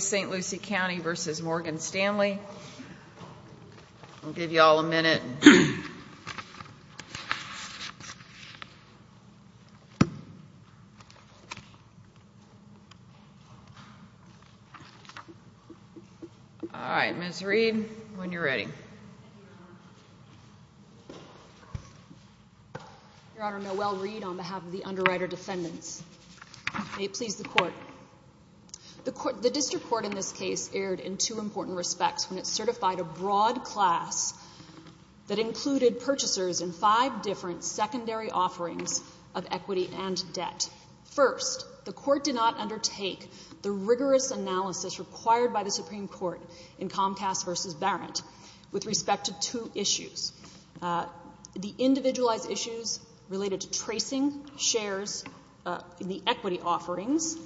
St. Lucie County v. Morgan Stanley I'll give you all a minute. All right, Ms. Reed, when you're ready. Thank you, Your Honor. Your Honor, Noelle Reed on behalf of the underwriter defendants. May it please the Court. The District Court in this case erred in two important respects when it certified a broad class that included purchasers in five different secondary offerings of equity and debt. First, the Court did not undertake the rigorous analysis required by the Supreme Court in Comcast v. Barrett with respect to two issues. The individualized issues related to tracing shares in the equity offerings,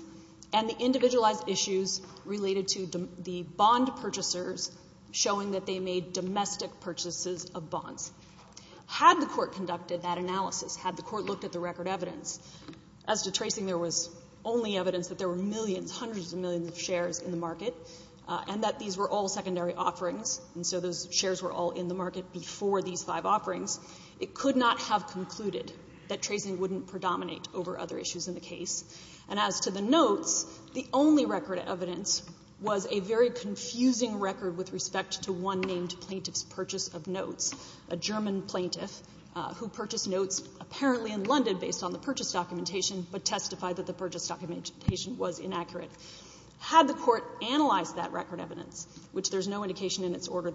and the individualized issues related to the bond purchasers showing that they made domestic purchases of bonds. Had the Court conducted that analysis, had the Court looked at the record evidence, as to tracing there was only evidence that there were millions, hundreds of millions of shares in the market, and that these were all secondary offerings, and so those shares were all in the market before these five offerings, it could not have concluded that tracing wouldn't predominate over other issues in the case. And as to the notes, the only record evidence was a very confusing record with respect to one named plaintiff's purchase of notes, a German plaintiff who purchased notes apparently in London based on the purchase documentation but testified that the purchase documentation was inaccurate. Had the Court analyzed that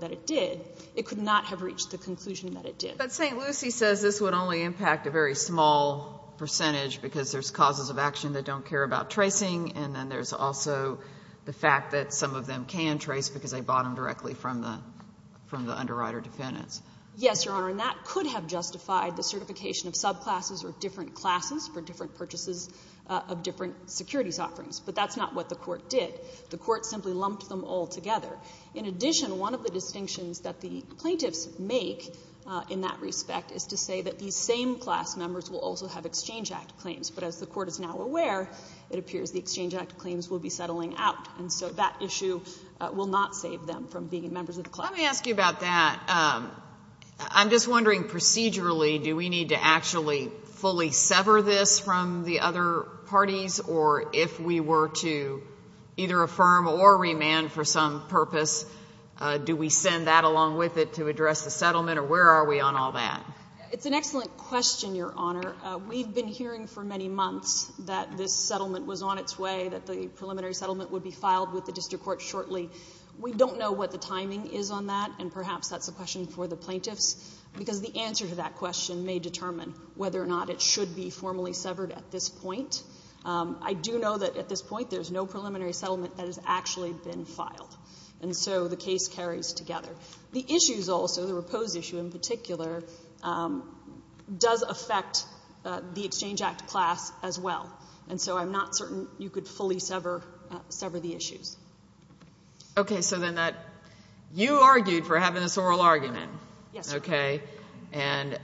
it did, it could not have reached the conclusion that it did. But St. Lucie says this would only impact a very small percentage because there's causes of action that don't care about tracing, and then there's also the fact that some of them can trace because they bought them directly from the underwriter defendants. Yes, Your Honor, and that could have justified the certification of subclasses or different classes for different purchases of different securities offerings, but that's not what the Court did. The Court simply lumped them all together. In addition, one of the distinctions that the plaintiffs make in that respect is to say that these same class members will also have Exchange Act claims, but as the Court is now aware, it appears the Exchange Act claims will be settling out, and so that issue will not save them from being members of the class. Let me ask you about that. I'm just wondering procedurally, do we need to actually fully either affirm or remand for some purpose? Do we send that along with it to address the settlement, or where are we on all that? It's an excellent question, Your Honor. We've been hearing for many months that this settlement was on its way, that the preliminary settlement would be filed with the district court shortly. We don't know what the timing is on that, and perhaps that's a question for the plaintiffs, because the answer to that question may determine whether or not it should be formally severed at this point. I do know that at this point there's no preliminary settlement that has actually been filed, and so the case carries together. The issues also, the repose issue in particular, does affect the Exchange Act class as well, and so I'm not certain you could fully sever the issues. Okay. So then that, you argued for having this oral argument. Yes. Okay. And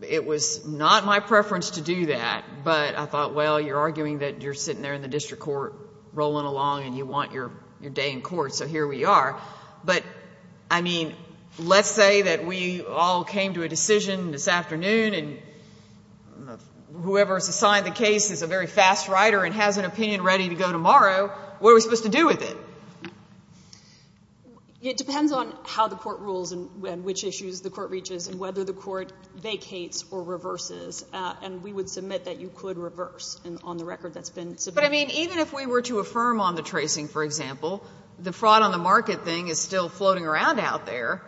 it was not my preference to do that, but I thought, well, you're arguing that you're sitting there in the district court rolling along and you want your day in court, so here we are. But, I mean, let's say that we all came to a decision this afternoon, and whoever's assigned the case is a very fast writer and has an opinion ready to go tomorrow, what are we supposed to do with it? It depends on how the court rules and which issues the court reaches and whether the court vacates or reverses, and we would submit that you could reverse, and on the record that's been submitted. But, I mean, even if we were to affirm on the tracing, for example, the fraud on the market thing is still floating around out there.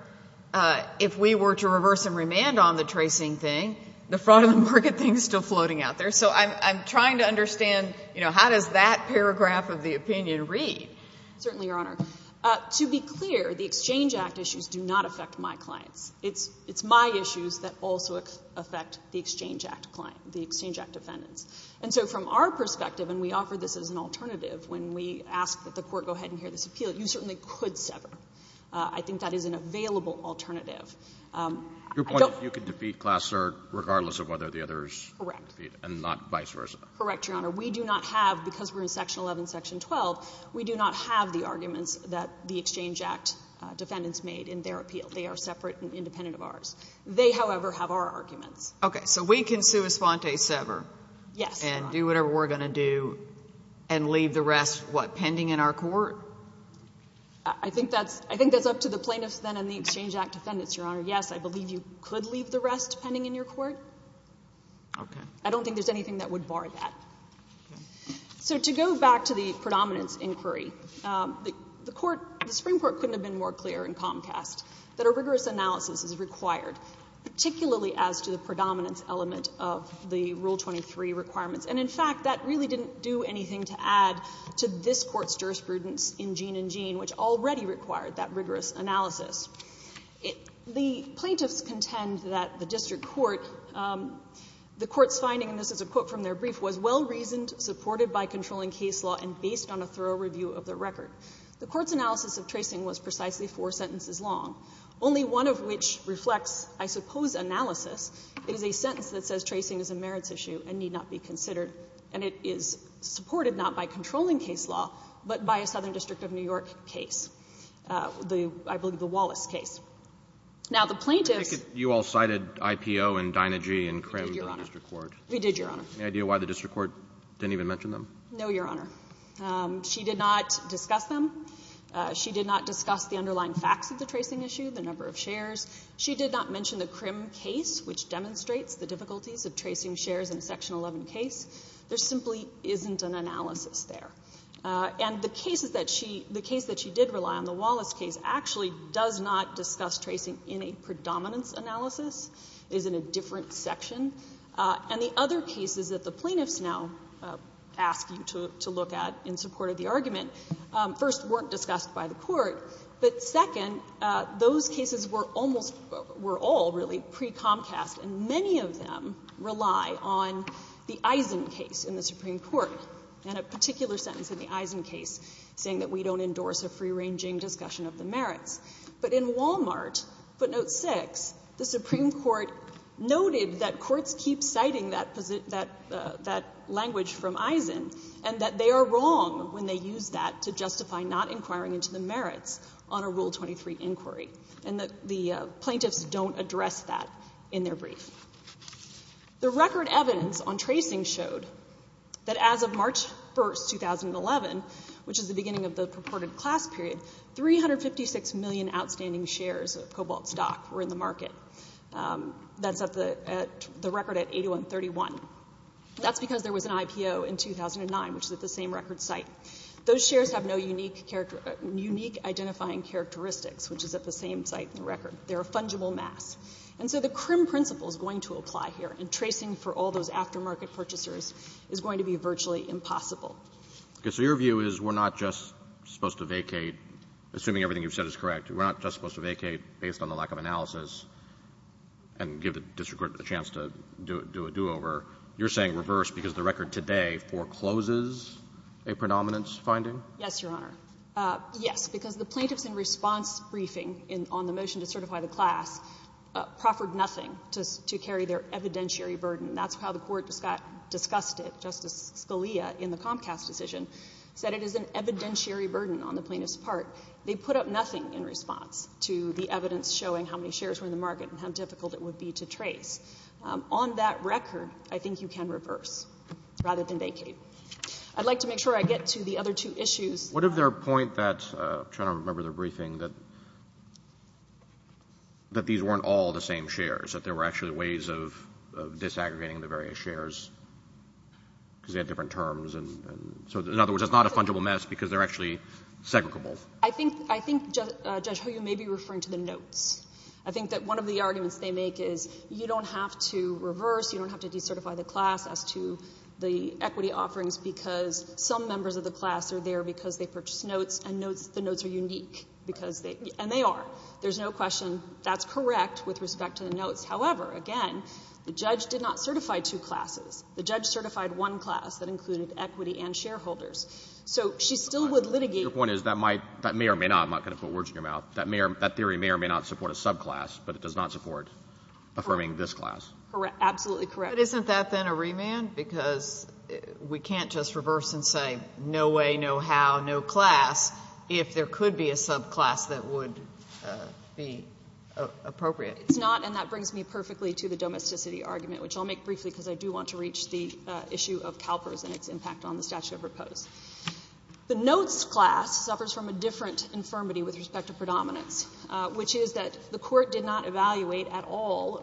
If we were to reverse and remand on the tracing thing, the fraud on the market thing is still floating out there. So I'm trying to understand, you know, how does that paragraph of the opinion read? Certainly, Your Honor. To be clear, the Exchange Act issues do not affect my clients. It's my issues that also affect the Exchange Act client, the Exchange Act defendants. And so from our perspective, and we offer this as an alternative, when we ask that the court go ahead and hear this appeal, you certainly could sever. I think that is an available alternative. Your point is you can defeat Klasser regardless of whether the others can defeat it and not vice versa. Correct, Your Honor. We do not have, because we're in Section 11, Section 12, we do not have the arguments that the Exchange Act defendants made in their appeal. They are separate and independent of ours. They, however, have our arguments. Okay. So we can sua sponte sever? Yes, Your Honor. And do whatever we're going to do and leave the rest, what, pending in our court? I think that's up to the plaintiffs then and the Exchange Act defendants, Your Honor. Yes, I believe you could leave the rest pending in your court. Okay. I don't think there's anything that would bar that. Okay. So to go back to the predominance inquiry, the Court, the Supreme Court couldn't have been more clear in Comcast that a rigorous analysis is required, particularly as to the predominance element of the Rule 23 requirements. And in fact, that really didn't do anything to add to this Court's jurisprudence in Gene and Gene, which already required that rigorous analysis. The plaintiffs contend that the district court, the court's finding, and this is a quote from their brief, was well-reasoned, supported by controlling case law, and based on a thorough review of their record. The court's analysis of tracing was precisely four sentences long, only one of which reflects, I suppose, analysis. It is a sentence that says tracing is a merits issue and need not be considered, and it is supported not by controlling case law, but by a Now, the plaintiffs — I take it you all cited IPO and Dynagy and Crimm in the district court. We did, Your Honor. We did, Your Honor. Any idea why the district court didn't even mention them? No, Your Honor. She did not discuss them. She did not discuss the underlying facts of the tracing issue, the number of shares. She did not mention the Crimm case, which demonstrates the difficulties of tracing shares in the Section 11 case. There simply isn't an analysis there. And the cases that she — the case that she did rely on, the Wallace case, actually does not discuss tracing in a predominance analysis. It is in a different section. And the other cases that the plaintiffs now ask you to look at in support of the argument, first, weren't discussed by the court, but second, those cases were almost — were all, really, pre-Comcast, and many of them rely on the Eisen case in the Supreme Court for the arranging discussion of the merits. But in Walmart, footnote 6, the Supreme Court noted that courts keep citing that language from Eisen and that they are wrong when they use that to justify not inquiring into the merits on a Rule 23 inquiry, and that the plaintiffs don't address that in their brief. The record evidence on tracing showed that as of March 1, 2011, which is the beginning of the purported class period, 356 million outstanding shares of Cobalt stock were in the market. That's at the — the record at 8131. That's because there was an IPO in 2009, which is at the same record site. Those shares have no unique identifying characteristics, which is at the same site in the record. They're a fungible mass. And so the CRIM principle is going to apply here, and tracing for all those aftermarket purchasers is going to be virtually impossible. So your view is we're not just supposed to vacate, assuming everything you've said is correct, we're not just supposed to vacate based on the lack of analysis and give the district court a chance to do a do-over? You're saying reverse because the record today forecloses a predominance finding? Yes, Your Honor. Yes, because the plaintiffs in response briefing on the motion to certify the class proffered nothing to carry their evidentiary burden. That's how the Court discussed it. Justice Scalia in the Comcast decision said it is an evidentiary burden on the plaintiff's part. They put up nothing in response to the evidence showing how many shares were in the market and how difficult it would be to trace. On that record, I think you can reverse rather than vacate. I'd like to make sure I get to the other two issues. What of their point that — I'm trying to remember their briefing — that these weren't all the same shares, that there were actually ways of disaggregating the various shares because they had different terms? So in other words, it's not a fungible mess because they're actually segregable? I think Judge Hoyle may be referring to the notes. I think that one of the arguments they make is you don't have to reverse, you don't have to decertify the class as to the equity offerings because some members of the class are there because they purchased notes and the notes are unique. And they are. There's no question that's correct with respect to the notes. However, again, the judge did not certify two classes. The judge certified one class that included equity and shareholders. So she still would litigate — Your point is that may or may not — I'm not going to put words in your mouth — that theory may or may not support a subclass, but it does not support affirming this class. Correct. Absolutely correct. But isn't that then a remand? Because we can't just reverse and say no way, no how, no class if there could be a subclass that would be appropriate. It's not, and that brings me perfectly to the domesticity argument, which I'll make briefly because I do want to reach the issue of CalPERS and its impact on the statute of repose. The notes class suffers from a different infirmity with respect to predominance, which is that the Court did not evaluate at all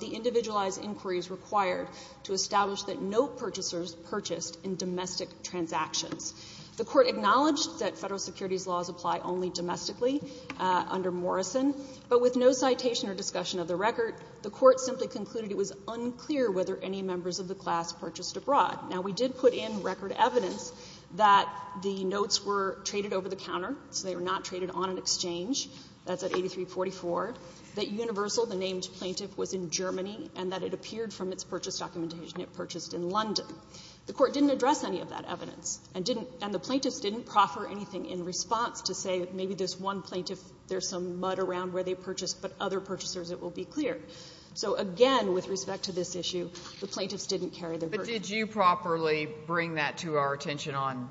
the individualized inquiries required to establish that note purchasers purchased in domestic transactions. The Court acknowledged that Federal securities laws apply only domestically under Morrison, but with no citation or discussion of the record, the Court simply concluded it was unclear whether any members of the class purchased abroad. Now, we did put in record evidence that the notes were traded over the counter, so they were not traded on an exchange. That's at 8344. That Universal, the named plaintiff, was in Germany and that it appeared from its purchase documentation it purchased in in response to say maybe there's one plaintiff, there's some mud around where they purchased, but other purchasers, it will be clear. So again, with respect to this issue, the plaintiffs didn't carry the burden. But did you properly bring that to our attention on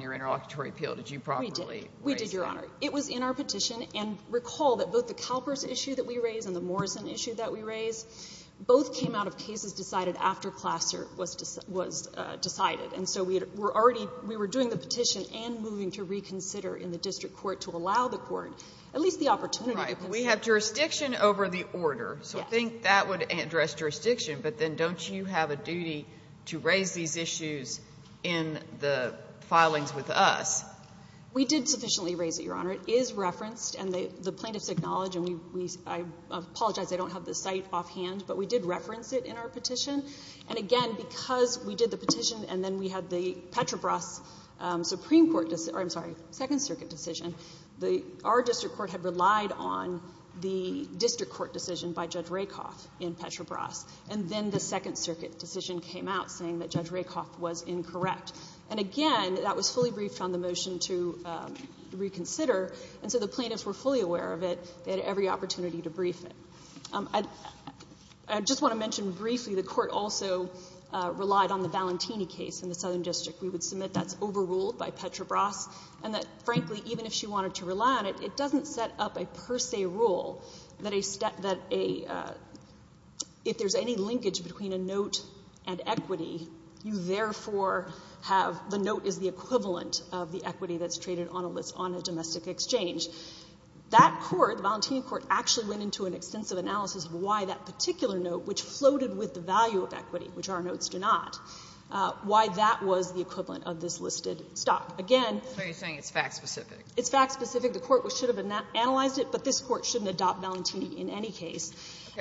your interlocutory appeal? Did you properly raise that? We did, Your Honor. It was in our petition, and recall that both the CalPERS issue that we raised and the Morrison issue that we raised, both came out of cases decided after Plasser was decided. And so we were already, we were doing the petition and moving to reconsider in the district court to allow the court at least the opportunity to consider. Right. But we have jurisdiction over the order. Yes. So I think that would address jurisdiction, but then don't you have a duty to raise these issues in the filings with us? We did sufficiently raise it, Your Honor. It is referenced, and the plaintiffs acknowledge, and I apologize, I don't have the site offhand, but we did reference it in our petition. And again, because we did the petition and then we had the Petrobras Supreme Court, I'm sorry, Second Circuit decision, our district court had relied on the district court decision by Judge Rakoff in Petrobras, and then the Second Circuit decision came out saying that Judge Rakoff was incorrect. And again, that was fully briefed on the motion to reconsider, and so the plaintiffs were fully aware of it. They had every opportunity to brief it. I just want to mention briefly the court also relied on the Valentini case in the Southern District. We would submit that's overruled by Petrobras, and that frankly, even if she wanted to rely on it, it doesn't set up a per se rule that if there's any linkage between a note and equity, you therefore have the note is the equivalent of the equity that's traded on a list on a domestic exchange. That court, the Valentini court, actually went into an extensive analysis of why that particular note, which floated with the value of equity, which our notes do not, why that was the equivalent of this listed stock. Again — So you're saying it's fact specific? It's fact specific. The court should have analyzed it, but this court shouldn't adopt Valentini in any case.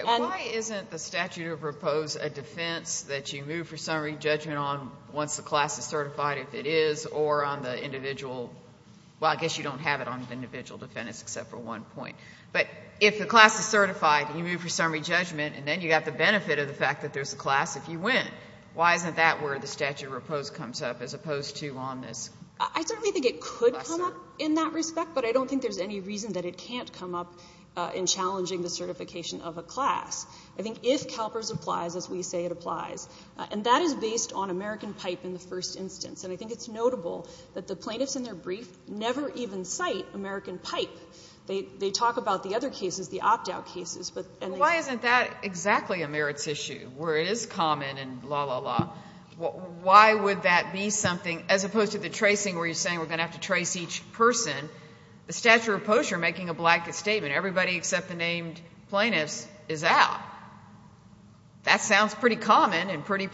Why isn't the statute of repose a defense that you move for summary judgment on once the class is certified, if it is, or on the individual — well, I guess you don't have it on individual defendants except for one point. But if the class is certified and you move for summary judgment, and then you have the benefit of the fact that there's a class if you win, why isn't that where the statute of repose comes up as opposed to on this? I certainly think it could come up in that respect, but I don't think there's any reason that it can't come up in challenging the certification of a class. I think if CalPERS applies, as we say it applies, and that is based on American pipe in the first instance, and I think it's notable that the plaintiffs in their brief never even cite American pipe. They talk about the other cases, the opt-out cases, but — Why isn't that exactly a merits issue, where it is common and la, la, la? Why would that be something, as opposed to the tracing where you're saying we're going to have to trace each person? The statute of repose, you're making a blanket statement. Everybody except the named plaintiffs is out. That sounds pretty common and pretty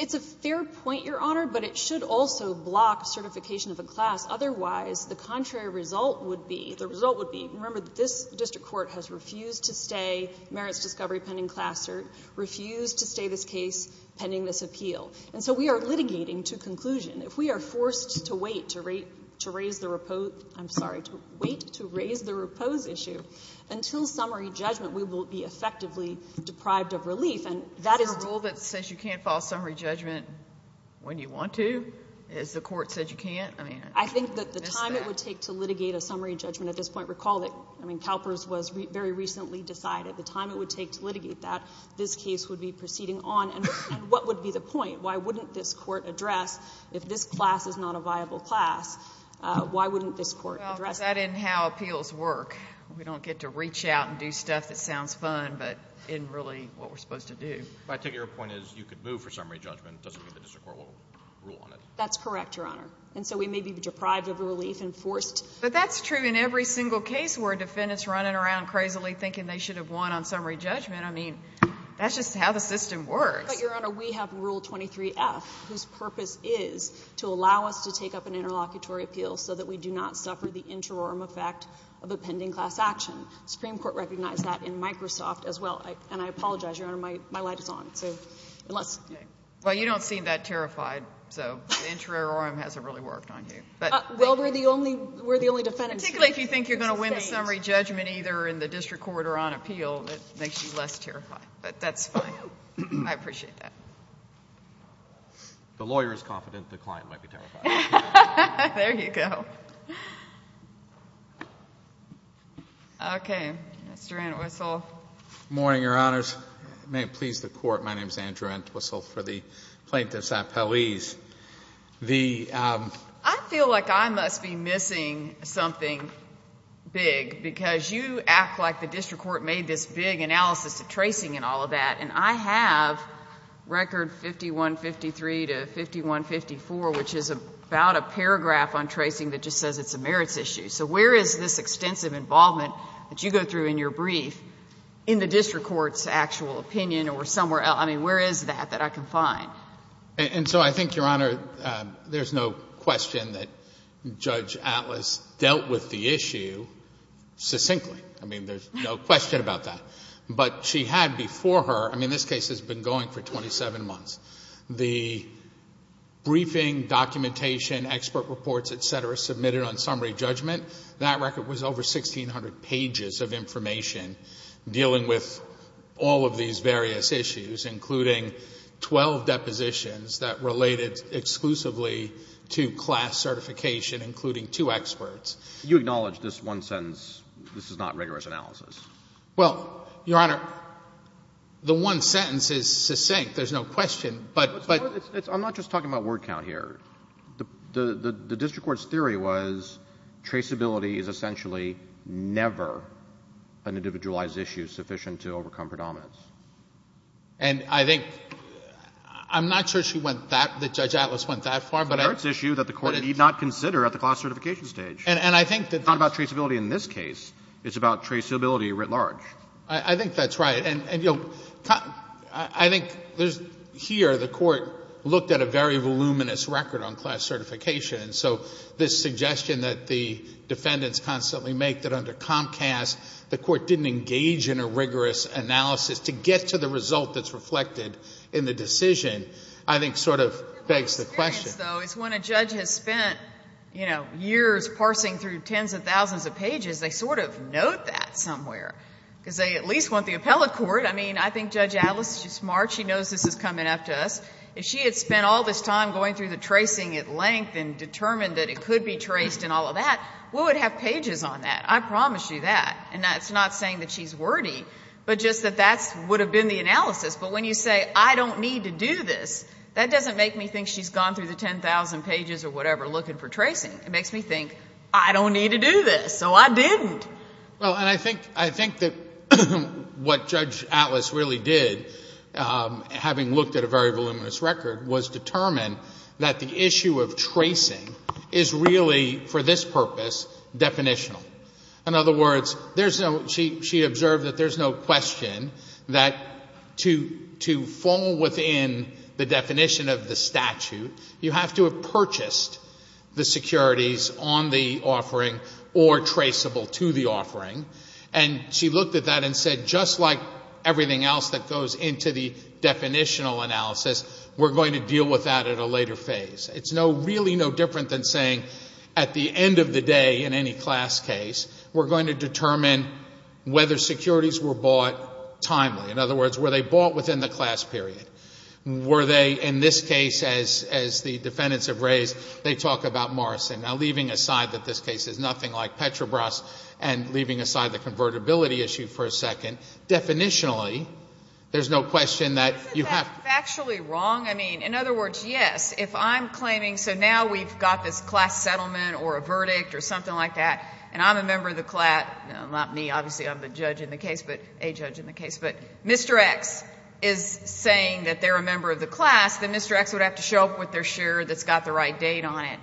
It's a fair point, Your Honor, but it should also block certification of a class. Otherwise, the contrary result would be — the result would be, remember, this district court has refused to stay, merits discovery pending class cert, refused to stay this case pending this appeal. And so we are litigating to conclusion. If we are forced to wait to raise the repose — I'm sorry, to wait to raise the repose issue, until summary judgment, we will be effectively deprived of relief, and that is — A court that says you can't file summary judgment when you want to is the court that says you can't? I mean — I think that the time it would take to litigate a summary judgment at this point, recall that CalPERS was very recently decided, the time it would take to litigate that, this case would be proceeding on, and what would be the point? Why wouldn't this court address, if this class is not a viable class, why wouldn't this court address — Well, that and how appeals work. We don't get to reach out and do stuff that sounds fun, but isn't really what we're supposed to do. But I take your point as you could move for summary judgment. It doesn't mean the district court will rule on it. That's correct, Your Honor. And so we may be deprived of relief and forced — But that's true in every single case where a defendant's running around crazily thinking they should have won on summary judgment. I mean, that's just how the system works. But, Your Honor, we have Rule 23F, whose purpose is to allow us to take up an interlocutory appeal so that we do not suffer the interim effect of a pending class action. The Supreme Court recognized that in Microsoft as well. And I apologize, Your Honor, my light is on. So unless — Well, you don't seem that terrified, so the interim hasn't really worked on you. But — Well, we're the only — we're the only defendant — Particularly if you think you're going to win the summary judgment either in the district court or on appeal, that makes you less terrified. But that's fine. I appreciate that. The lawyer is confident the client might be terrified. There you go. Okay. Mr. Antwistle. Good morning, Your Honors. May it please the Court, my name is Andrew Antwistle for the plaintiffs' appellees. The — I feel like I must be missing something big because you act like the district court made this big analysis of tracing and all of that. And I have record 5153 to 5154, which is about a paragraph on tracing that just says it's a merits issue. So where is this extensive involvement that you go through in your brief in the district court's actual opinion or somewhere else? I mean, where is that that I can find? And so I think, Your Honor, there's no question that Judge Atlas dealt with the issue succinctly. I mean, there's no question about that. But she had before her — I mean, this case has been going for 27 months. The briefing, documentation, expert reports, et cetera, submitted on summary judgment, that record was over 1,600 pages of information dealing with all of these various issues, including 12 depositions that related exclusively to class certification, including two experts. You acknowledge this one sentence, this is not rigorous analysis? Well, Your Honor, the one sentence is succinct. There's no question. But — I'm not just talking about word count here. The district court's theory was traceability is essentially never an individualized issue sufficient to overcome predominance. And I think — I'm not sure she went that — that Judge Atlas went that far, but — It's a merits issue that the Court need not consider at the class certification stage. And I think that — It's not about traceability in this case. It's about traceability writ large. I think that's right. And, you know, I think there's — here the Court looked at a very that under Comcast the Court didn't engage in a rigorous analysis to get to the result that's reflected in the decision, I think sort of begs the question. My experience, though, is when a judge has spent, you know, years parsing through tens of thousands of pages, they sort of note that somewhere, because they at least want the appellate court. I mean, I think Judge Atlas is smart. She knows this is coming after us. If she had spent all this time going through the tracing at length and determined that it could be traced and all of that, we would have pages on that. I promise you that. And that's not saying that she's wordy, but just that that's — would have been the analysis. But when you say, I don't need to do this, that doesn't make me think she's gone through the 10,000 pages or whatever looking for tracing. It makes me think, I don't need to do this, so I didn't. Well, and I think — I think that what Judge Atlas really did, having looked at a very voluminous record, was determine that the issue of tracing is really, for this purpose, definitional. In other words, there's no — she observed that there's no question that to fall within the definition of the statute, you have to have purchased the securities on the offering or traceable to the offering. And she looked at that and said, just like everything else that goes into the definitional analysis, we're going to deal with that at a later phase. It's no — really no different than saying at the end of the day in any class case, we're going to determine whether securities were bought timely. In other words, were they bought within the class period? Were they, in this case, as the defendants have raised, they talk about Morrison. Now, leaving aside that this case is nothing like Petrobras and leaving aside the second, definitionally, there's no question that you have — Isn't that factually wrong? I mean, in other words, yes, if I'm claiming — so now we've got this class settlement or a verdict or something like that, and I'm a member of the — not me, obviously, I'm the judge in the case, but a judge in the case, but Mr. X is saying that they're a member of the class, then Mr. X would have to show up with their share that's got the right date on it.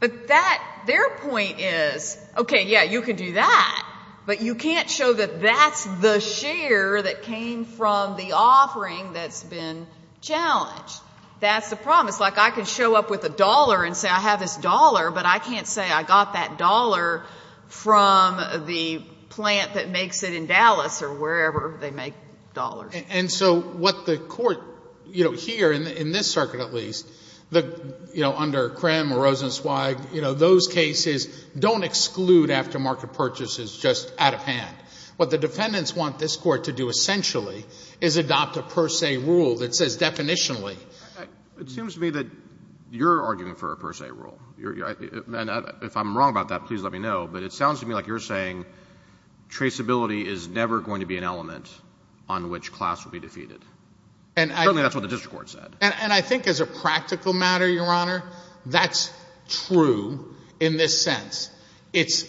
But that — their point is, okay, yeah, you can do that, but you can't show that that's the share that came from the offering that's been challenged. That's the problem. It's like I can show up with a dollar and say I have this dollar, but I can't say I got that dollar from the plant that makes it in Dallas or wherever they make dollars. And so what the court — you know, here, in this circuit at least, you know, under just out of hand. What the defendants want this court to do essentially is adopt a per se rule that says definitionally — It seems to me that you're arguing for a per se rule. And if I'm wrong about that, please let me know. But it sounds to me like you're saying traceability is never going to be an element on which class will be defeated. And I — Certainly that's what the district court said. And I think as a practical matter, Your Honor, that's true in this sense. It's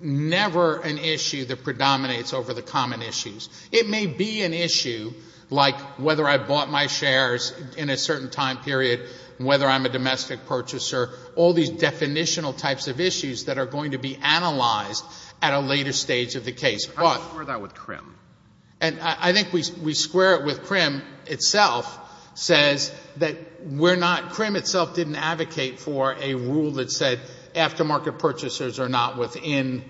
never an issue that predominates over the common issues. It may be an issue like whether I bought my shares in a certain time period, whether I'm a domestic purchaser, all these definitional types of issues that are going to be analyzed at a later stage of the case. How do you square that with Krim? And I think we square it with — Krim itself says that we're not — Krim itself didn't advocate for a rule that said aftermarket purchasers are not within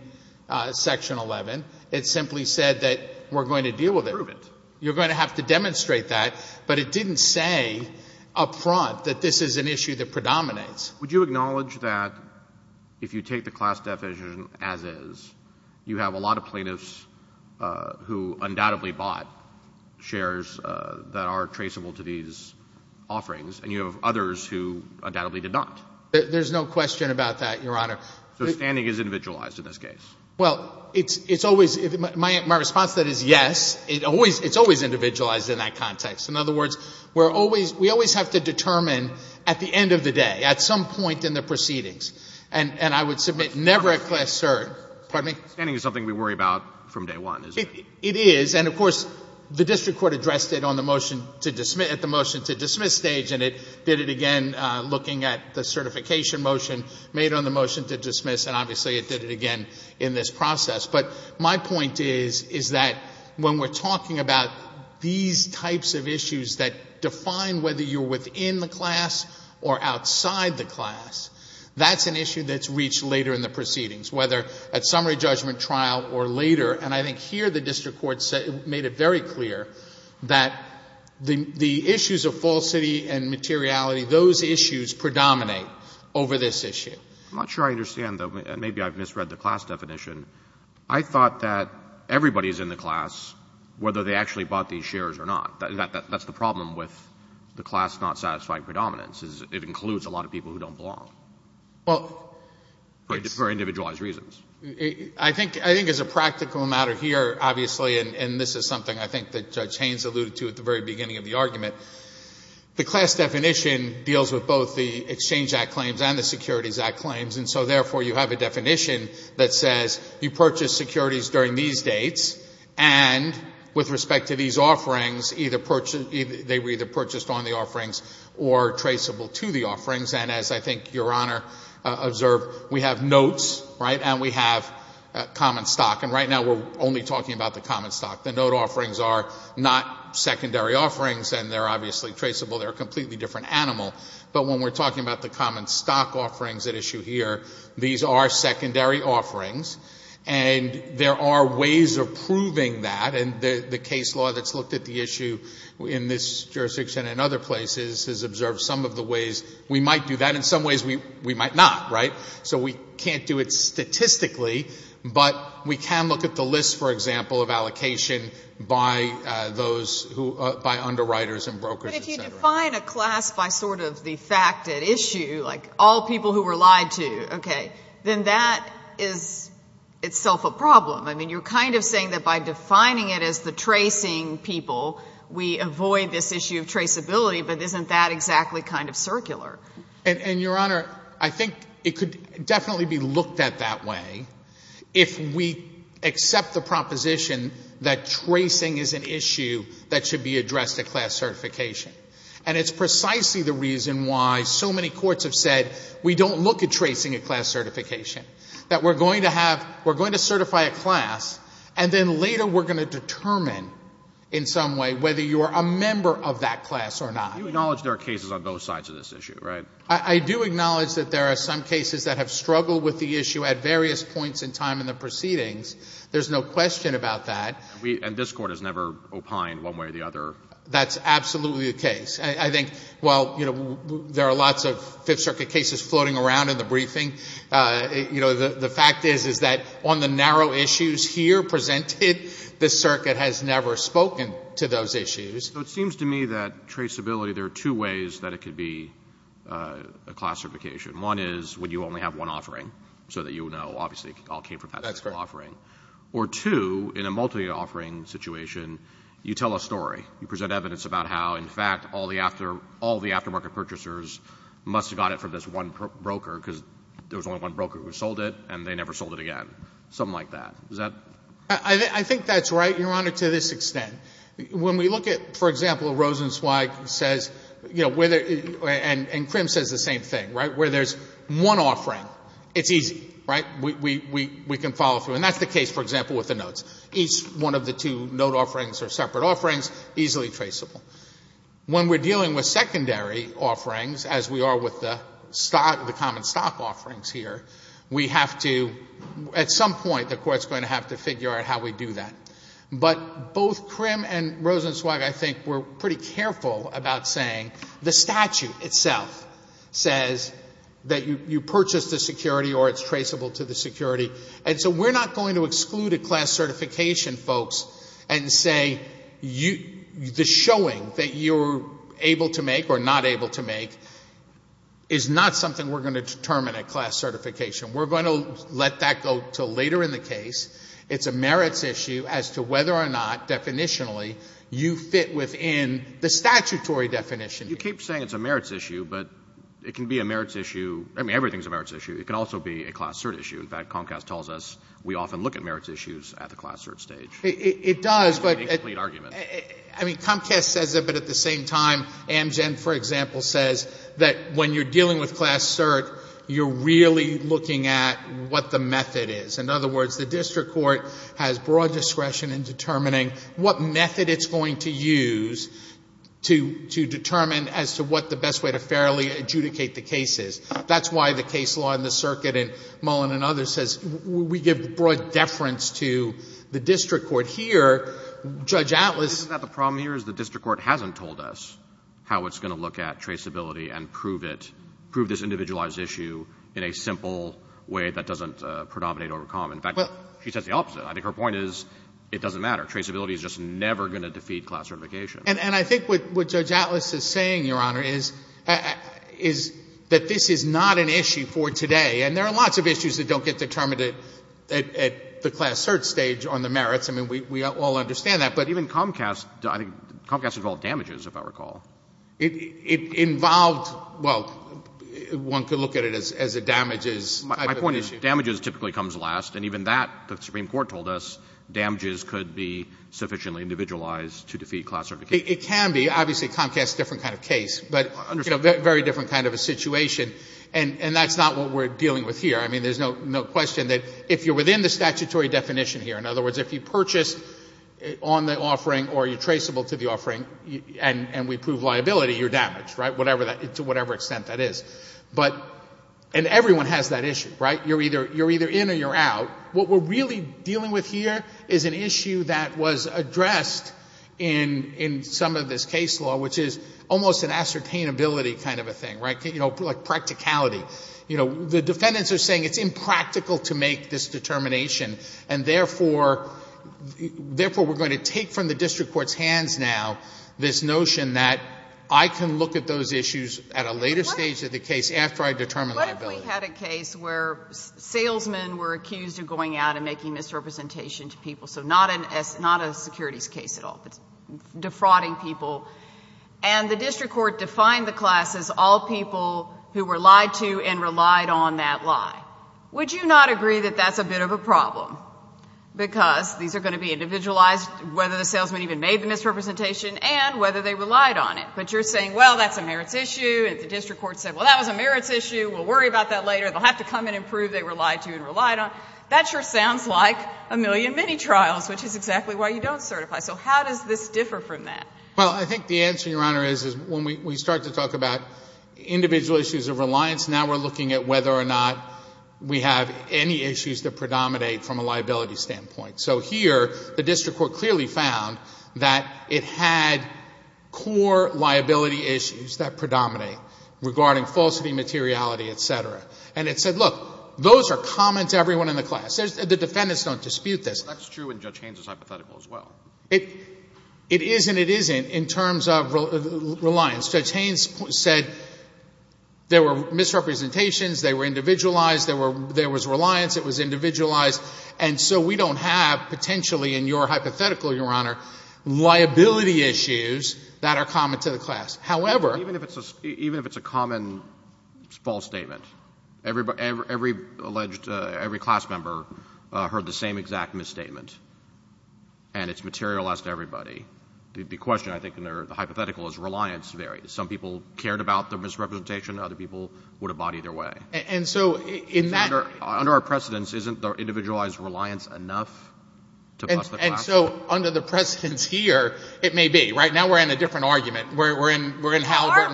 Section 11. It simply said that we're going to deal with it. Prove it. You're going to have to demonstrate that. But it didn't say up front that this is an issue that predominates. Would you acknowledge that if you take the class definition as is, you have a lot of people who undoubtedly bought shares that are traceable to these offerings, and you have others who undoubtedly did not? There's no question about that, Your Honor. So standing is individualized in this case? Well, it's always — my response to that is yes. It's always individualized in that context. In other words, we're always — we always have to determine at the end of the day, at some point in the proceedings. And I would submit never at Class Cert — pardon me? Standing is something we worry about from day one, isn't it? It is. And, of course, the district court addressed it on the motion to dismiss — at the motion to dismiss stage, and it did it again looking at the certification motion made on the motion to dismiss, and obviously it did it again in this process. But my point is, is that when we're talking about these types of issues that define whether you're within the class or outside the class, that's an issue that's reached later in the proceedings, whether at summary judgment trial or later. And I think here the district court made it very clear that the issues of falsity and materiality, those issues predominate over this issue. I'm not sure I understand, though. Maybe I've misread the class definition. I thought that everybody's in the class whether they actually bought these shares or not. That's the problem with the class not satisfying predominance, is it includes a lot of people who don't belong. Well — For individualized reasons. I think as a practical matter here, obviously, and this is something I think that Judge Haynes alluded to at the very beginning of the argument, the class definition deals with both the Exchange Act claims and the Securities Act claims, and so therefore you have a definition that says you purchase securities during these dates, and with respect to these offerings, they were either purchased on the offerings or traceable to the offerings. And as I think Your Honor observed, we have notes, right, and we have common stock. And right now we're only talking about the common stock. The note offerings are not secondary offerings, and they're obviously traceable. They're a completely different animal. But when we're talking about the common stock offerings at issue here, these are secondary offerings, and there are ways of proving that. And the case law that's in some ways we might not, right? So we can't do it statistically, but we can look at the list, for example, of allocation by those who — by underwriters and brokers, et cetera. But if you define a class by sort of the fact at issue, like all people who were lied to, okay, then that is itself a problem. I mean, you're kind of saying that by defining it as the tracing people, we avoid this issue of traceability, but isn't that exactly kind of circular? And, Your Honor, I think it could definitely be looked at that way if we accept the proposition that tracing is an issue that should be addressed at class certification. And it's precisely the reason why so many courts have said we don't look at tracing at class certification, that we're going to have — we're going to certify a class, and then later we're going to determine in some way whether you are a member of that class or not. But you acknowledge there are cases on both sides of this issue, right? I do acknowledge that there are some cases that have struggled with the issue at various points in time in the proceedings. There's no question about that. And we — and this Court has never opined one way or the other. That's absolutely the case. I think while, you know, there are lots of Fifth Circuit cases floating around in the briefing, you know, the fact is, is that on the narrow issues here presented, the Circuit has never spoken to those issues. So it seems to me that traceability, there are two ways that it could be a class certification. One is when you only have one offering, so that you know, obviously, it all came from that single offering. That's correct. Or two, in a multi-offering situation, you tell a story. You present evidence about how, in fact, all the after — all the aftermarket purchasers must have got it from this one broker because there was only one broker who sold it, and they never sold it again, something like that. Is that — I think that's right, Your Honor, to this extent. When we look at, for example, Rosenzweig says, you know, whether — and Crimm says the same thing, right? Where there's one offering, it's easy, right? We can follow through. And that's the case, for example, with the notes. Each one of the two note offerings are separate offerings, easily traceable. When we're dealing with secondary offerings, as we are with the stock — the common stock offerings here, we have to — at some point, the Court's going to have to figure out how we do that. But both Crimm and Rosenzweig, I think, were pretty careful about saying the statute itself says that you purchase the security or it's traceable to the security. And so we're not going to exclude a class certification, folks, and say you — the showing that you're able to make or not able to make is not something we're going to determine at class certification. We're going to let that go until later in the case. It's a merits issue as to whether or not, definitionally, you fit within the statutory definition. You keep saying it's a merits issue, but it can be a merits issue — I mean, everything's a merits issue. It can also be a class cert issue. In fact, Comcast tells us we often look at merits issues at the class cert stage. It does, but — It's an incomplete argument. I mean, Comcast says it, but at the same time, Amgen, for example, says that when you're dealing with class cert, you're really looking at what the method is. In other words, the district court has broad discretion in determining what method it's going to use to determine as to what the best way to fairly adjudicate the case is. That's why the case law in the circuit in Mullen and others says we give broad deference to the district court. Here, Judge Atlas — Isn't that the problem here is the district court hasn't told us how it's going to look at traceability and prove it — prove this individualized issue in a simple way that doesn't predominate over Comcast. In fact, she says the opposite. I think her point is it doesn't matter. Traceability is just never going to defeat class certification. And I think what Judge Atlas is saying, Your Honor, is that this is not an issue for today. And there are lots of issues that don't get determined at the class cert stage on the merits. I mean, we all understand that. But even Comcast — I think Comcast involved damages, if I recall. It involved — well, one could look at it as a damages type of issue. My point is damages typically comes last. And even that, the Supreme Court told us, damages could be sufficiently individualized to defeat class certification. It can be. Obviously, Comcast is a different kind of case. But it's a very different kind of a situation. And that's not what we're dealing with here. I mean, there's no question that if you're within the statutory definition here — in other words, if you purchase on the offering or you're liability, you're damaged, right? To whatever extent that is. But — and everyone has that issue, right? You're either in or you're out. What we're really dealing with here is an issue that was addressed in some of this case law, which is almost an ascertainability kind of a thing, right? You know, like practicality. You know, the defendants are saying it's impractical to make this determination. And therefore, we're going to take from the district court's hands now this notion that I can look at those issues at a later stage of the case after I determine liability. What if we had a case where salesmen were accused of going out and making misrepresentation to people? So not a securities case at all. It's defrauding people. And the district court defined the class as all people who were lied to and relied on that lie. Would you not agree that that's a bit of a problem? Because these are going to be But you're saying, well, that's a merits issue. If the district court said, well, that was a merits issue, we'll worry about that later. They'll have to come and prove they were lied to and relied on. That sure sounds like a million mini-trials, which is exactly why you don't certify. So how does this differ from that? Well, I think the answer, Your Honor, is when we start to talk about individual issues of reliance, now we're looking at whether or not we have any issues that predominate from a liability standpoint. So here, the district court clearly found that it had core liability issues that predominate regarding falsity, materiality, et cetera. And it said, look, those are common to everyone in the class. The defendants don't dispute this. That's true in Judge Haynes' hypothetical as well. It is and it isn't in terms of reliance. Judge Haynes said there were misrepresentations, they were individualized, there was reliance, it was individualized. And so we don't have, potentially in your hypothetical, Your Honor, liability issues that are common to the class. However — Even if it's a common false statement, every alleged — every class member heard the same exact misstatement, and it's materialized to everybody. The question, I think, in the hypothetical is reliance varies. Some people cared about the misrepresentation, other people would have bought either way. And so in that — Under our precedence, isn't the individualized reliance enough to cost the class? And so under the precedence here, it may be. Right now we're in a different argument. We're in — Aren't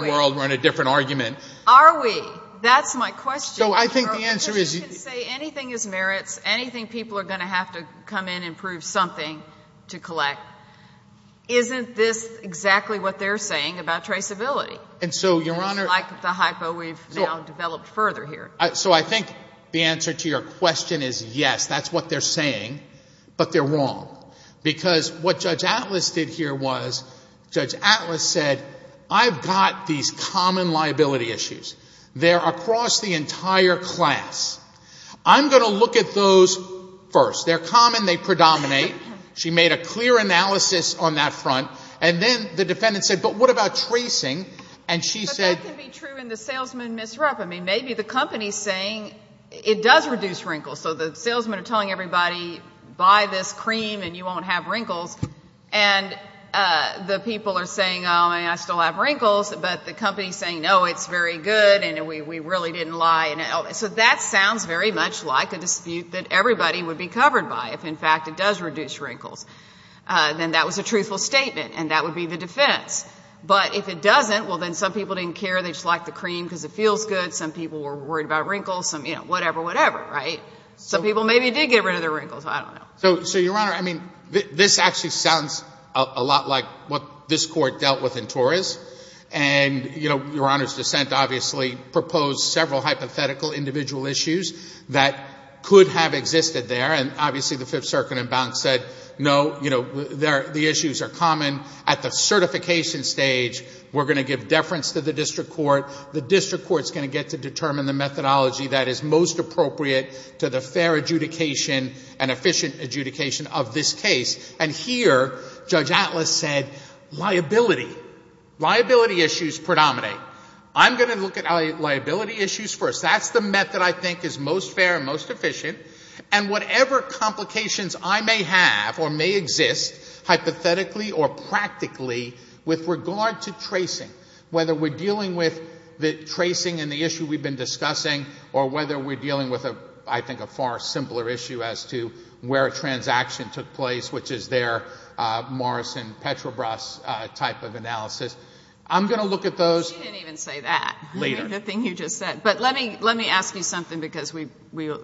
we? We're in a different argument. Are we? That's my question. So I think the answer is — Because you can say anything is merits, anything people are going to have to come in and prove something to collect. Isn't this exactly what they're saying about traceability? And so, Your Honor — Like the hypo we've now developed further here. So I think the answer to your question is yes, that's what they're saying. But they're wrong. Because what Judge Atlas did here was, Judge Atlas said, I've got these common liability issues. They're across the entire class. I'm going to look at those first. They're common, they predominate. She made a clear analysis on that front. And then the defendant said, but what about tracing? And she said — It does reduce wrinkles. So the salesmen are telling everybody, buy this cream and you won't have wrinkles. And the people are saying, oh, I still have wrinkles. But the company is saying, no, it's very good, and we really didn't lie. So that sounds very much like a dispute that everybody would be covered by, if in fact it does reduce wrinkles. Then that was a truthful statement, and that would be the defense. But if it doesn't, well, then some people didn't care, they just liked the cream because it feels good. Some people were worried about wrinkles, whatever, whatever. Some people maybe did get rid of their wrinkles, I don't know. So, Your Honor, this actually sounds a lot like what this Court dealt with in Torres. And Your Honor's dissent obviously proposed several hypothetical individual issues that could have existed there. And obviously the Fifth Circuit and Bounce said, no, the issues are common. At the certification stage, we're going to give deference to the district court. The district court is going to get to determine the methodology that is most appropriate to the fair adjudication and efficient adjudication of this case. And here, Judge Atlas said liability. Liability issues predominate. I'm going to look at liability issues first. That's the method I think is most fair and most efficient. And whatever complications I may have or may exist hypothetically or practically with regard to tracing, whether we're dealing with the tracing and the issue we've been discussing or whether we're dealing with, I think, a far simpler issue as to where a transaction took place, which is their Morrison-Petrobras type of analysis. I'm going to look at those. You didn't even say that. Later. The thing you just said. But let me ask you something because we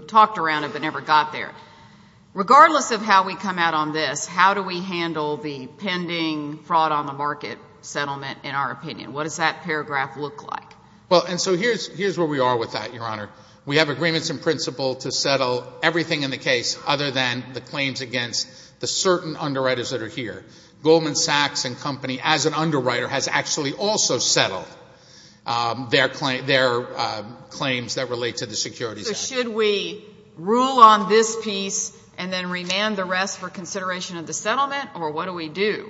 talked around it but never got there. Regardless of how we come out on this, how do we handle the pending fraud-on-the-market settlement, in our opinion? What does that paragraph look like? Well, and so here's where we are with that, Your Honor. We have agreements in principle to settle everything in the case other than the claims against the certain underwriters that are here. Goldman Sachs and Company, as an underwriter, has actually also settled their claims that relate to the Securities Act. So should we rule on this piece and then remand the rest for consideration of the settlement, or what do we do?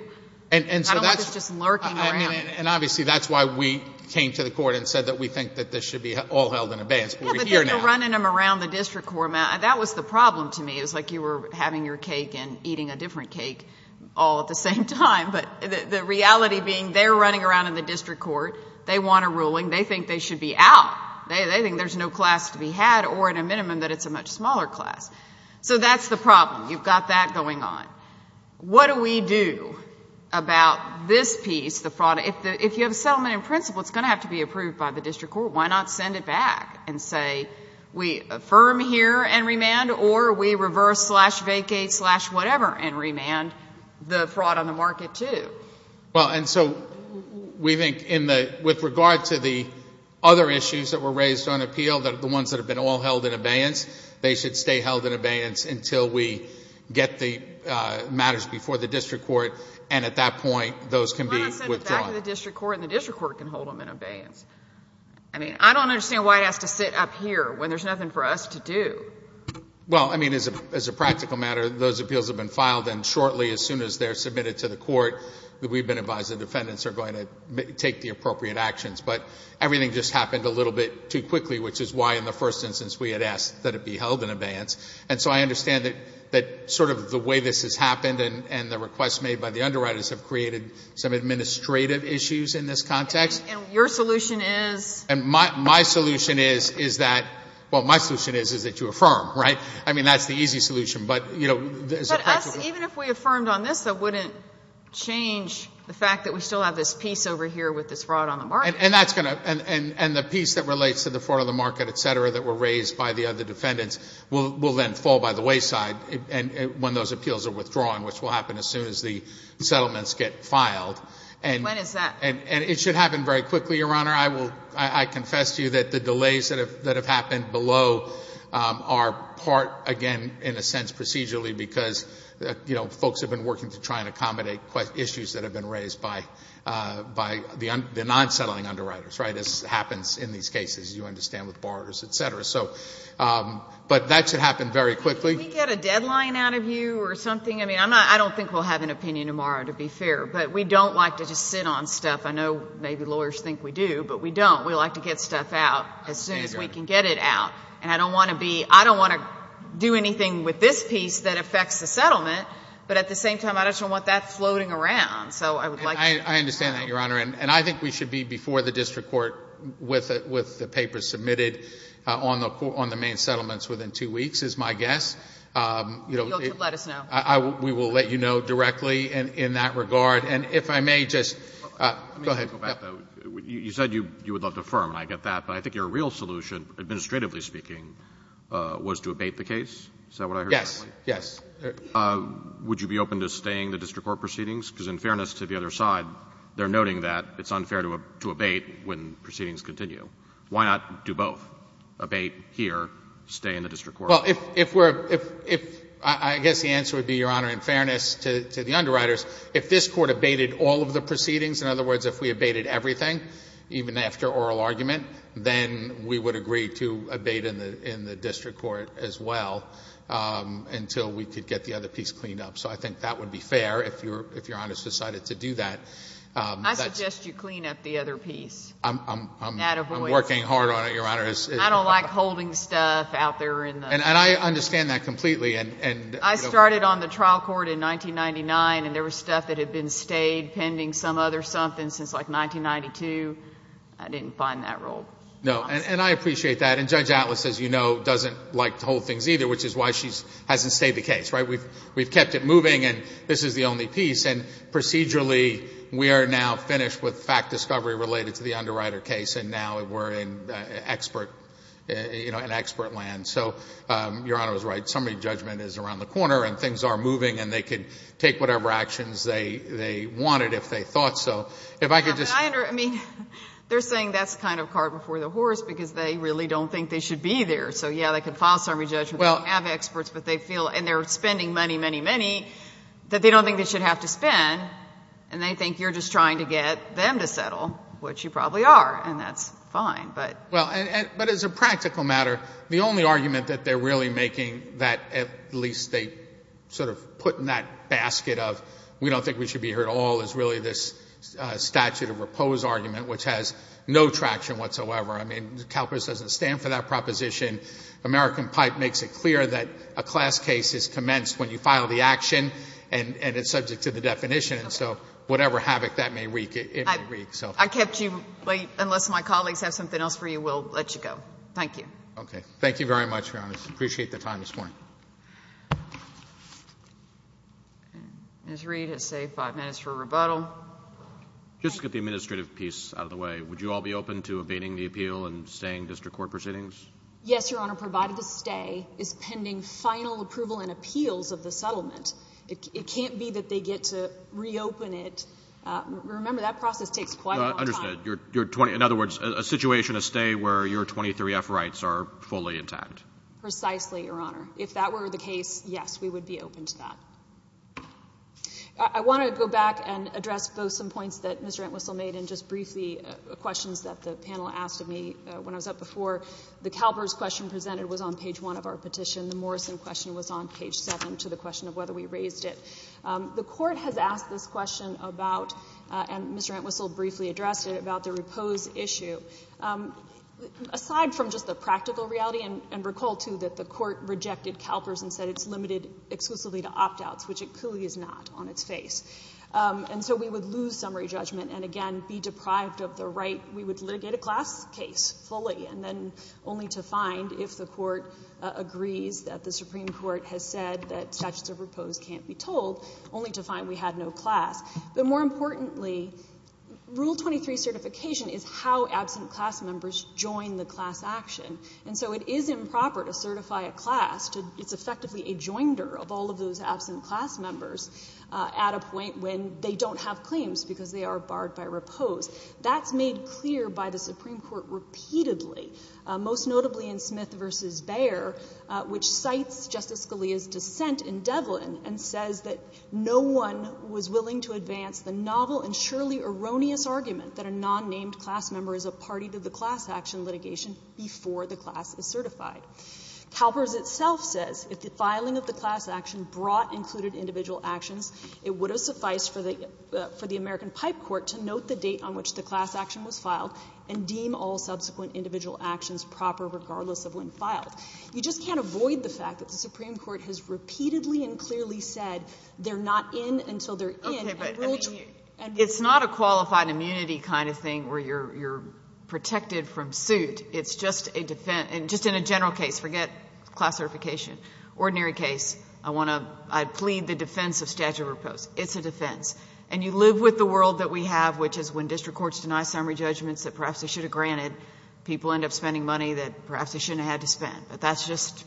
I don't want this just lurking around. And obviously that's why we came to the Court and said that we think that this should be all held in abeyance. Yeah, but then you're running them around the district court. That was the problem to me. It was like you were having your cake and eating a different cake all at the same time. But the reality being they're running around in the district court. They want a ruling. They think they should be out. They think there's no class to be had or, at a minimum, that it's a much smaller class. So that's the problem. You've got that going on. What do we do about this piece, the fraud? If you have a settlement in principle, it's going to have to be approved by the district court. Why not send it back and say we affirm here and remand or we reverse-slash-vacate-slash-whatever and remand the fraud on the market too? Well, and so we think with regard to the other issues that were raised on appeal, the ones that have been all held in abeyance, they should stay held in abeyance until we get the matters before the district court. And at that point, those can be withdrawn. Why not send it back to the district court and the district court can hold them in abeyance? I mean, I don't understand why it has to sit up here when there's nothing for us to do. Well, I mean, as a practical matter, those appeals have been filed and shortly, as soon as they're submitted to the court, we've been advised the defendants are going to take the appropriate actions. But everything just happened a little bit too quickly, which is why in the first instance we had asked that it be held in abeyance. And so I understand that sort of the way this has happened and the requests made by the underwriters have created some administrative issues in this context. And your solution is? And my solution is that you affirm, right? I mean, that's the easy solution. But even if we affirmed on this, that wouldn't change the fact that we still have this piece over here with this fraud on the market. And the piece that relates to the fraud on the market, et cetera, that were raised by the other defendants will then fall by the wayside when those appeals are withdrawn, which will happen as soon as the settlements get filed. When is that? And it should happen very quickly, Your Honor. I confess to you that the delays that have happened below are part, again, in a sense procedurally, because folks have been working to try and accommodate issues that have been raised by the non-settling underwriters, right? This happens in these cases, you understand, with borrowers, et cetera. But that should happen very quickly. Can we get a deadline out of you or something? I mean, I don't think we'll have an opinion tomorrow, to be fair. But we don't like to just sit on stuff. I know maybe lawyers think we do, but we don't. We like to get stuff out as soon as we can get it out. And I don't want to do anything with this piece that affects the settlement. But at the same time, I just don't want that floating around. I understand that, Your Honor. And I think we should be before the district court with the papers submitted on the main settlements within two weeks, is my guess. You'll let us know. We will let you know directly in that regard. And if I may just go ahead. You said you would love to affirm, and I get that. But I think your real solution, administratively speaking, was to abate the case. Is that what I heard? Yes, yes. Would you be open to staying the district court proceedings? Because in fairness to the other side, they're noting that it's unfair to abate when proceedings continue. Why not do both? Abate here, stay in the district court? Well, I guess the answer would be, Your Honor, in fairness to the underwriters, if this court abated all of the proceedings, in other words, if we abated everything, even after oral argument, then we would agree to abate in the district court as well until we could get the other piece cleaned up. So I think that would be fair if Your Honor has decided to do that. I suggest you clean up the other piece. I'm working hard on it, Your Honor. I don't like holding stuff out there. And I understand that completely. I started on the trial court in 1999, and there was stuff that had been stayed pending some other something since, like, 1992. I didn't find that role. No, and I appreciate that. And Judge Atlas, as you know, doesn't like to hold things either, which is why she hasn't stayed the case. We've kept it moving, and this is the only piece. And procedurally, we are now finished with fact discovery related to the underwriter case, and now we're in expert, you know, in expert land. So Your Honor was right. Summary judgment is around the corner, and things are moving, and they could take whatever actions they wanted if they thought so. If I could just ---- I mean, they're saying that's kind of cart before the horse because they really don't think they should be there. So, yeah, they could file summary judgment. They don't have experts, but they feel, and they're spending money, money, money, that they don't think they should have to spend, and they think you're just trying to get them to settle, which you probably are, and that's fine. Well, but as a practical matter, the only argument that they're really making that at least they sort of put in that basket of we don't think we should be here at all is really this statute of repose argument, which has no traction whatsoever. I mean, CalPERS doesn't stand for that proposition. American Pipe makes it clear that a class case is commenced when you file the action, and it's subject to the definition. And so whatever havoc that may wreak, it may wreak. I kept you late. Unless my colleagues have something else for you, we'll let you go. Thank you. Okay. Thank you very much, Your Honor. I appreciate the time this morning. Ms. Reed has saved five minutes for rebuttal. Just to get the administrative piece out of the way, would you all be open to abating the appeal and staying district court proceedings? Yes, Your Honor. Provided the stay is pending final approval and appeals of the settlement. It can't be that they get to reopen it. Remember, that process takes quite a long time. Understood. In other words, a situation, a stay where your 23F rights are fully intact. Precisely, Your Honor. If that were the case, yes, we would be open to that. I want to go back and address both some points that Mr. Entwistle made and just briefly questions that the panel asked of me when I was up before. The CalPERS question presented was on page one of our petition. The Morrison question was on page seven to the question of whether we raised it. The court has asked this question about, and Mr. Entwistle briefly addressed it, about the repose issue. Aside from just the practical reality, and recall, too, that the court rejected CalPERS and said it's limited exclusively to opt-outs, which it clearly is not on its face. And so we would lose summary judgment and, again, be deprived of the right. We would litigate a class case fully and then only to find, if the court agrees that the Supreme Court has said that statutes of repose can't be told, only to find we had no class. But more importantly, Rule 23 certification is how absent class members join the class action. And so it is improper to certify a class. It's effectively a joinder of all of those absent class members at a point when they don't have claims because they are barred by repose. That's made clear by the Supreme Court repeatedly, most notably in Smith v. Bayer, which cites Justice Scalia's dissent in Devlin and says that no one was willing to advance the novel and surely erroneous argument that a non-named class member is a party to the class action litigation before the class is certified. CalPERS itself says if the filing of the class action brought included individual actions, it would have sufficed for the American pipe court to note the date on which the class action was filed and deem all subsequent individual actions proper regardless of when filed. You just can't avoid the fact that the Supreme Court has repeatedly and clearly said they're not in until they're in. It's not a qualified immunity kind of thing where you're protected from suit. It's just a defense. And just in a general case, forget class certification. Ordinary case, I want to plead the defense of statute of repose. It's a defense. And you live with the world that we have, which is when district courts deny summary judgments that perhaps they should have granted, people end up spending money that perhaps they shouldn't have had to spend. But that's just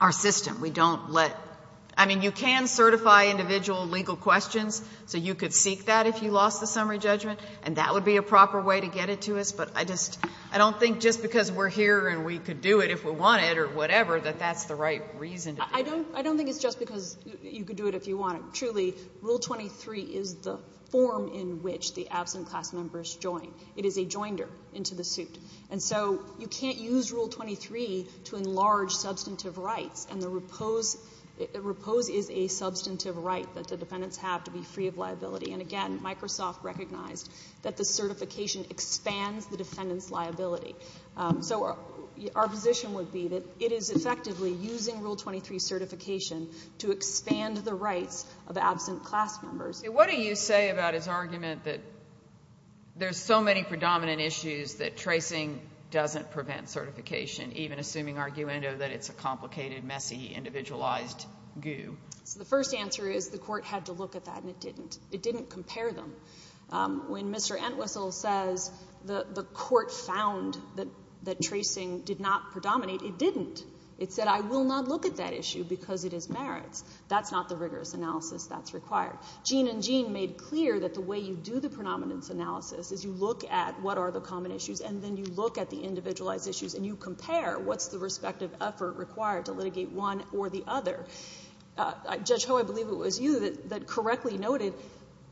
our system. I mean, you can certify individual legal questions so you could seek that if you lost the summary judgment, and that would be a proper way to get it to us, but I don't think just because we're here and we could do it if we wanted or whatever that that's the right reason. I don't think it's just because you could do it if you wanted. Truly, Rule 23 is the form in which the absent class members join. It is a joinder into the suit. And so you can't use Rule 23 to enlarge substantive rights, and the repose is a substantive right that the defendants have to be free of liability. And, again, Microsoft recognized that the certification expands the defendant's liability. So our position would be that it is effectively using Rule 23 certification to expand the rights of absent class members. So what do you say about his argument that there's so many predominant issues that tracing doesn't prevent certification, even assuming, arguendo, that it's a complicated, messy, individualized goo? So the first answer is the court had to look at that, and it didn't. It didn't compare them. When Mr. Entwistle says the court found that tracing did not predominate, it didn't. It said, I will not look at that issue because it is merits. That's not the rigorous analysis that's required. Gene and Jean made clear that the way you do the predominance analysis is you look at what are the common issues, and then you look at the individualized issues, and you compare what's the respective effort required to litigate one or the other. Judge Ho, I believe it was you that correctly noted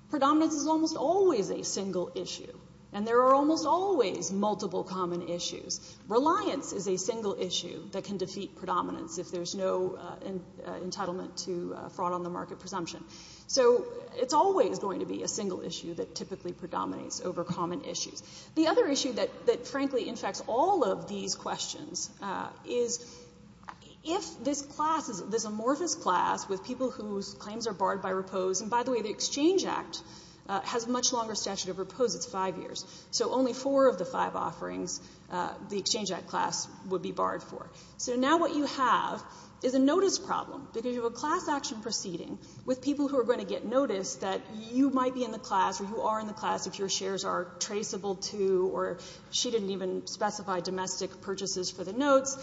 predominance is almost always a single issue, and there are almost always multiple common issues. Reliance is a single issue that can defeat predominance if there's no entitlement to fraud on the market presumption. So it's always going to be a single issue that typically predominates over common issues. The other issue that frankly infects all of these questions is if this class, this amorphous class with people whose claims are barred by repose, and by the way, the Exchange Act has a much longer statute of repose. It's five years. So only four of the five offerings, the Exchange Act class, would be barred for. So now what you have is a notice problem because you have a class action proceeding with people who are going to get notice that you might be in the class or you are in the class if your shares are traceable to or she didn't even specify domestic purchases for the notes.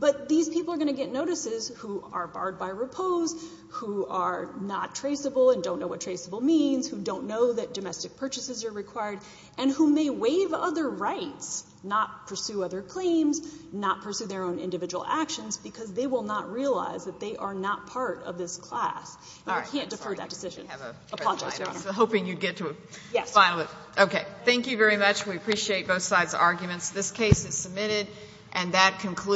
But these people are going to get notices who are barred by repose, who are not traceable and don't know what traceable means, who don't know that domestic purchases are required, and who may waive other rights, not pursue other claims, not pursue their own individual actions because they will not realize that they are not part of this class. You can't defer that decision. Apologies, Your Honor. I was hoping you'd get to a final. Okay. Thank you very much. We appreciate both sides' arguments. This case is submitted and that concludes.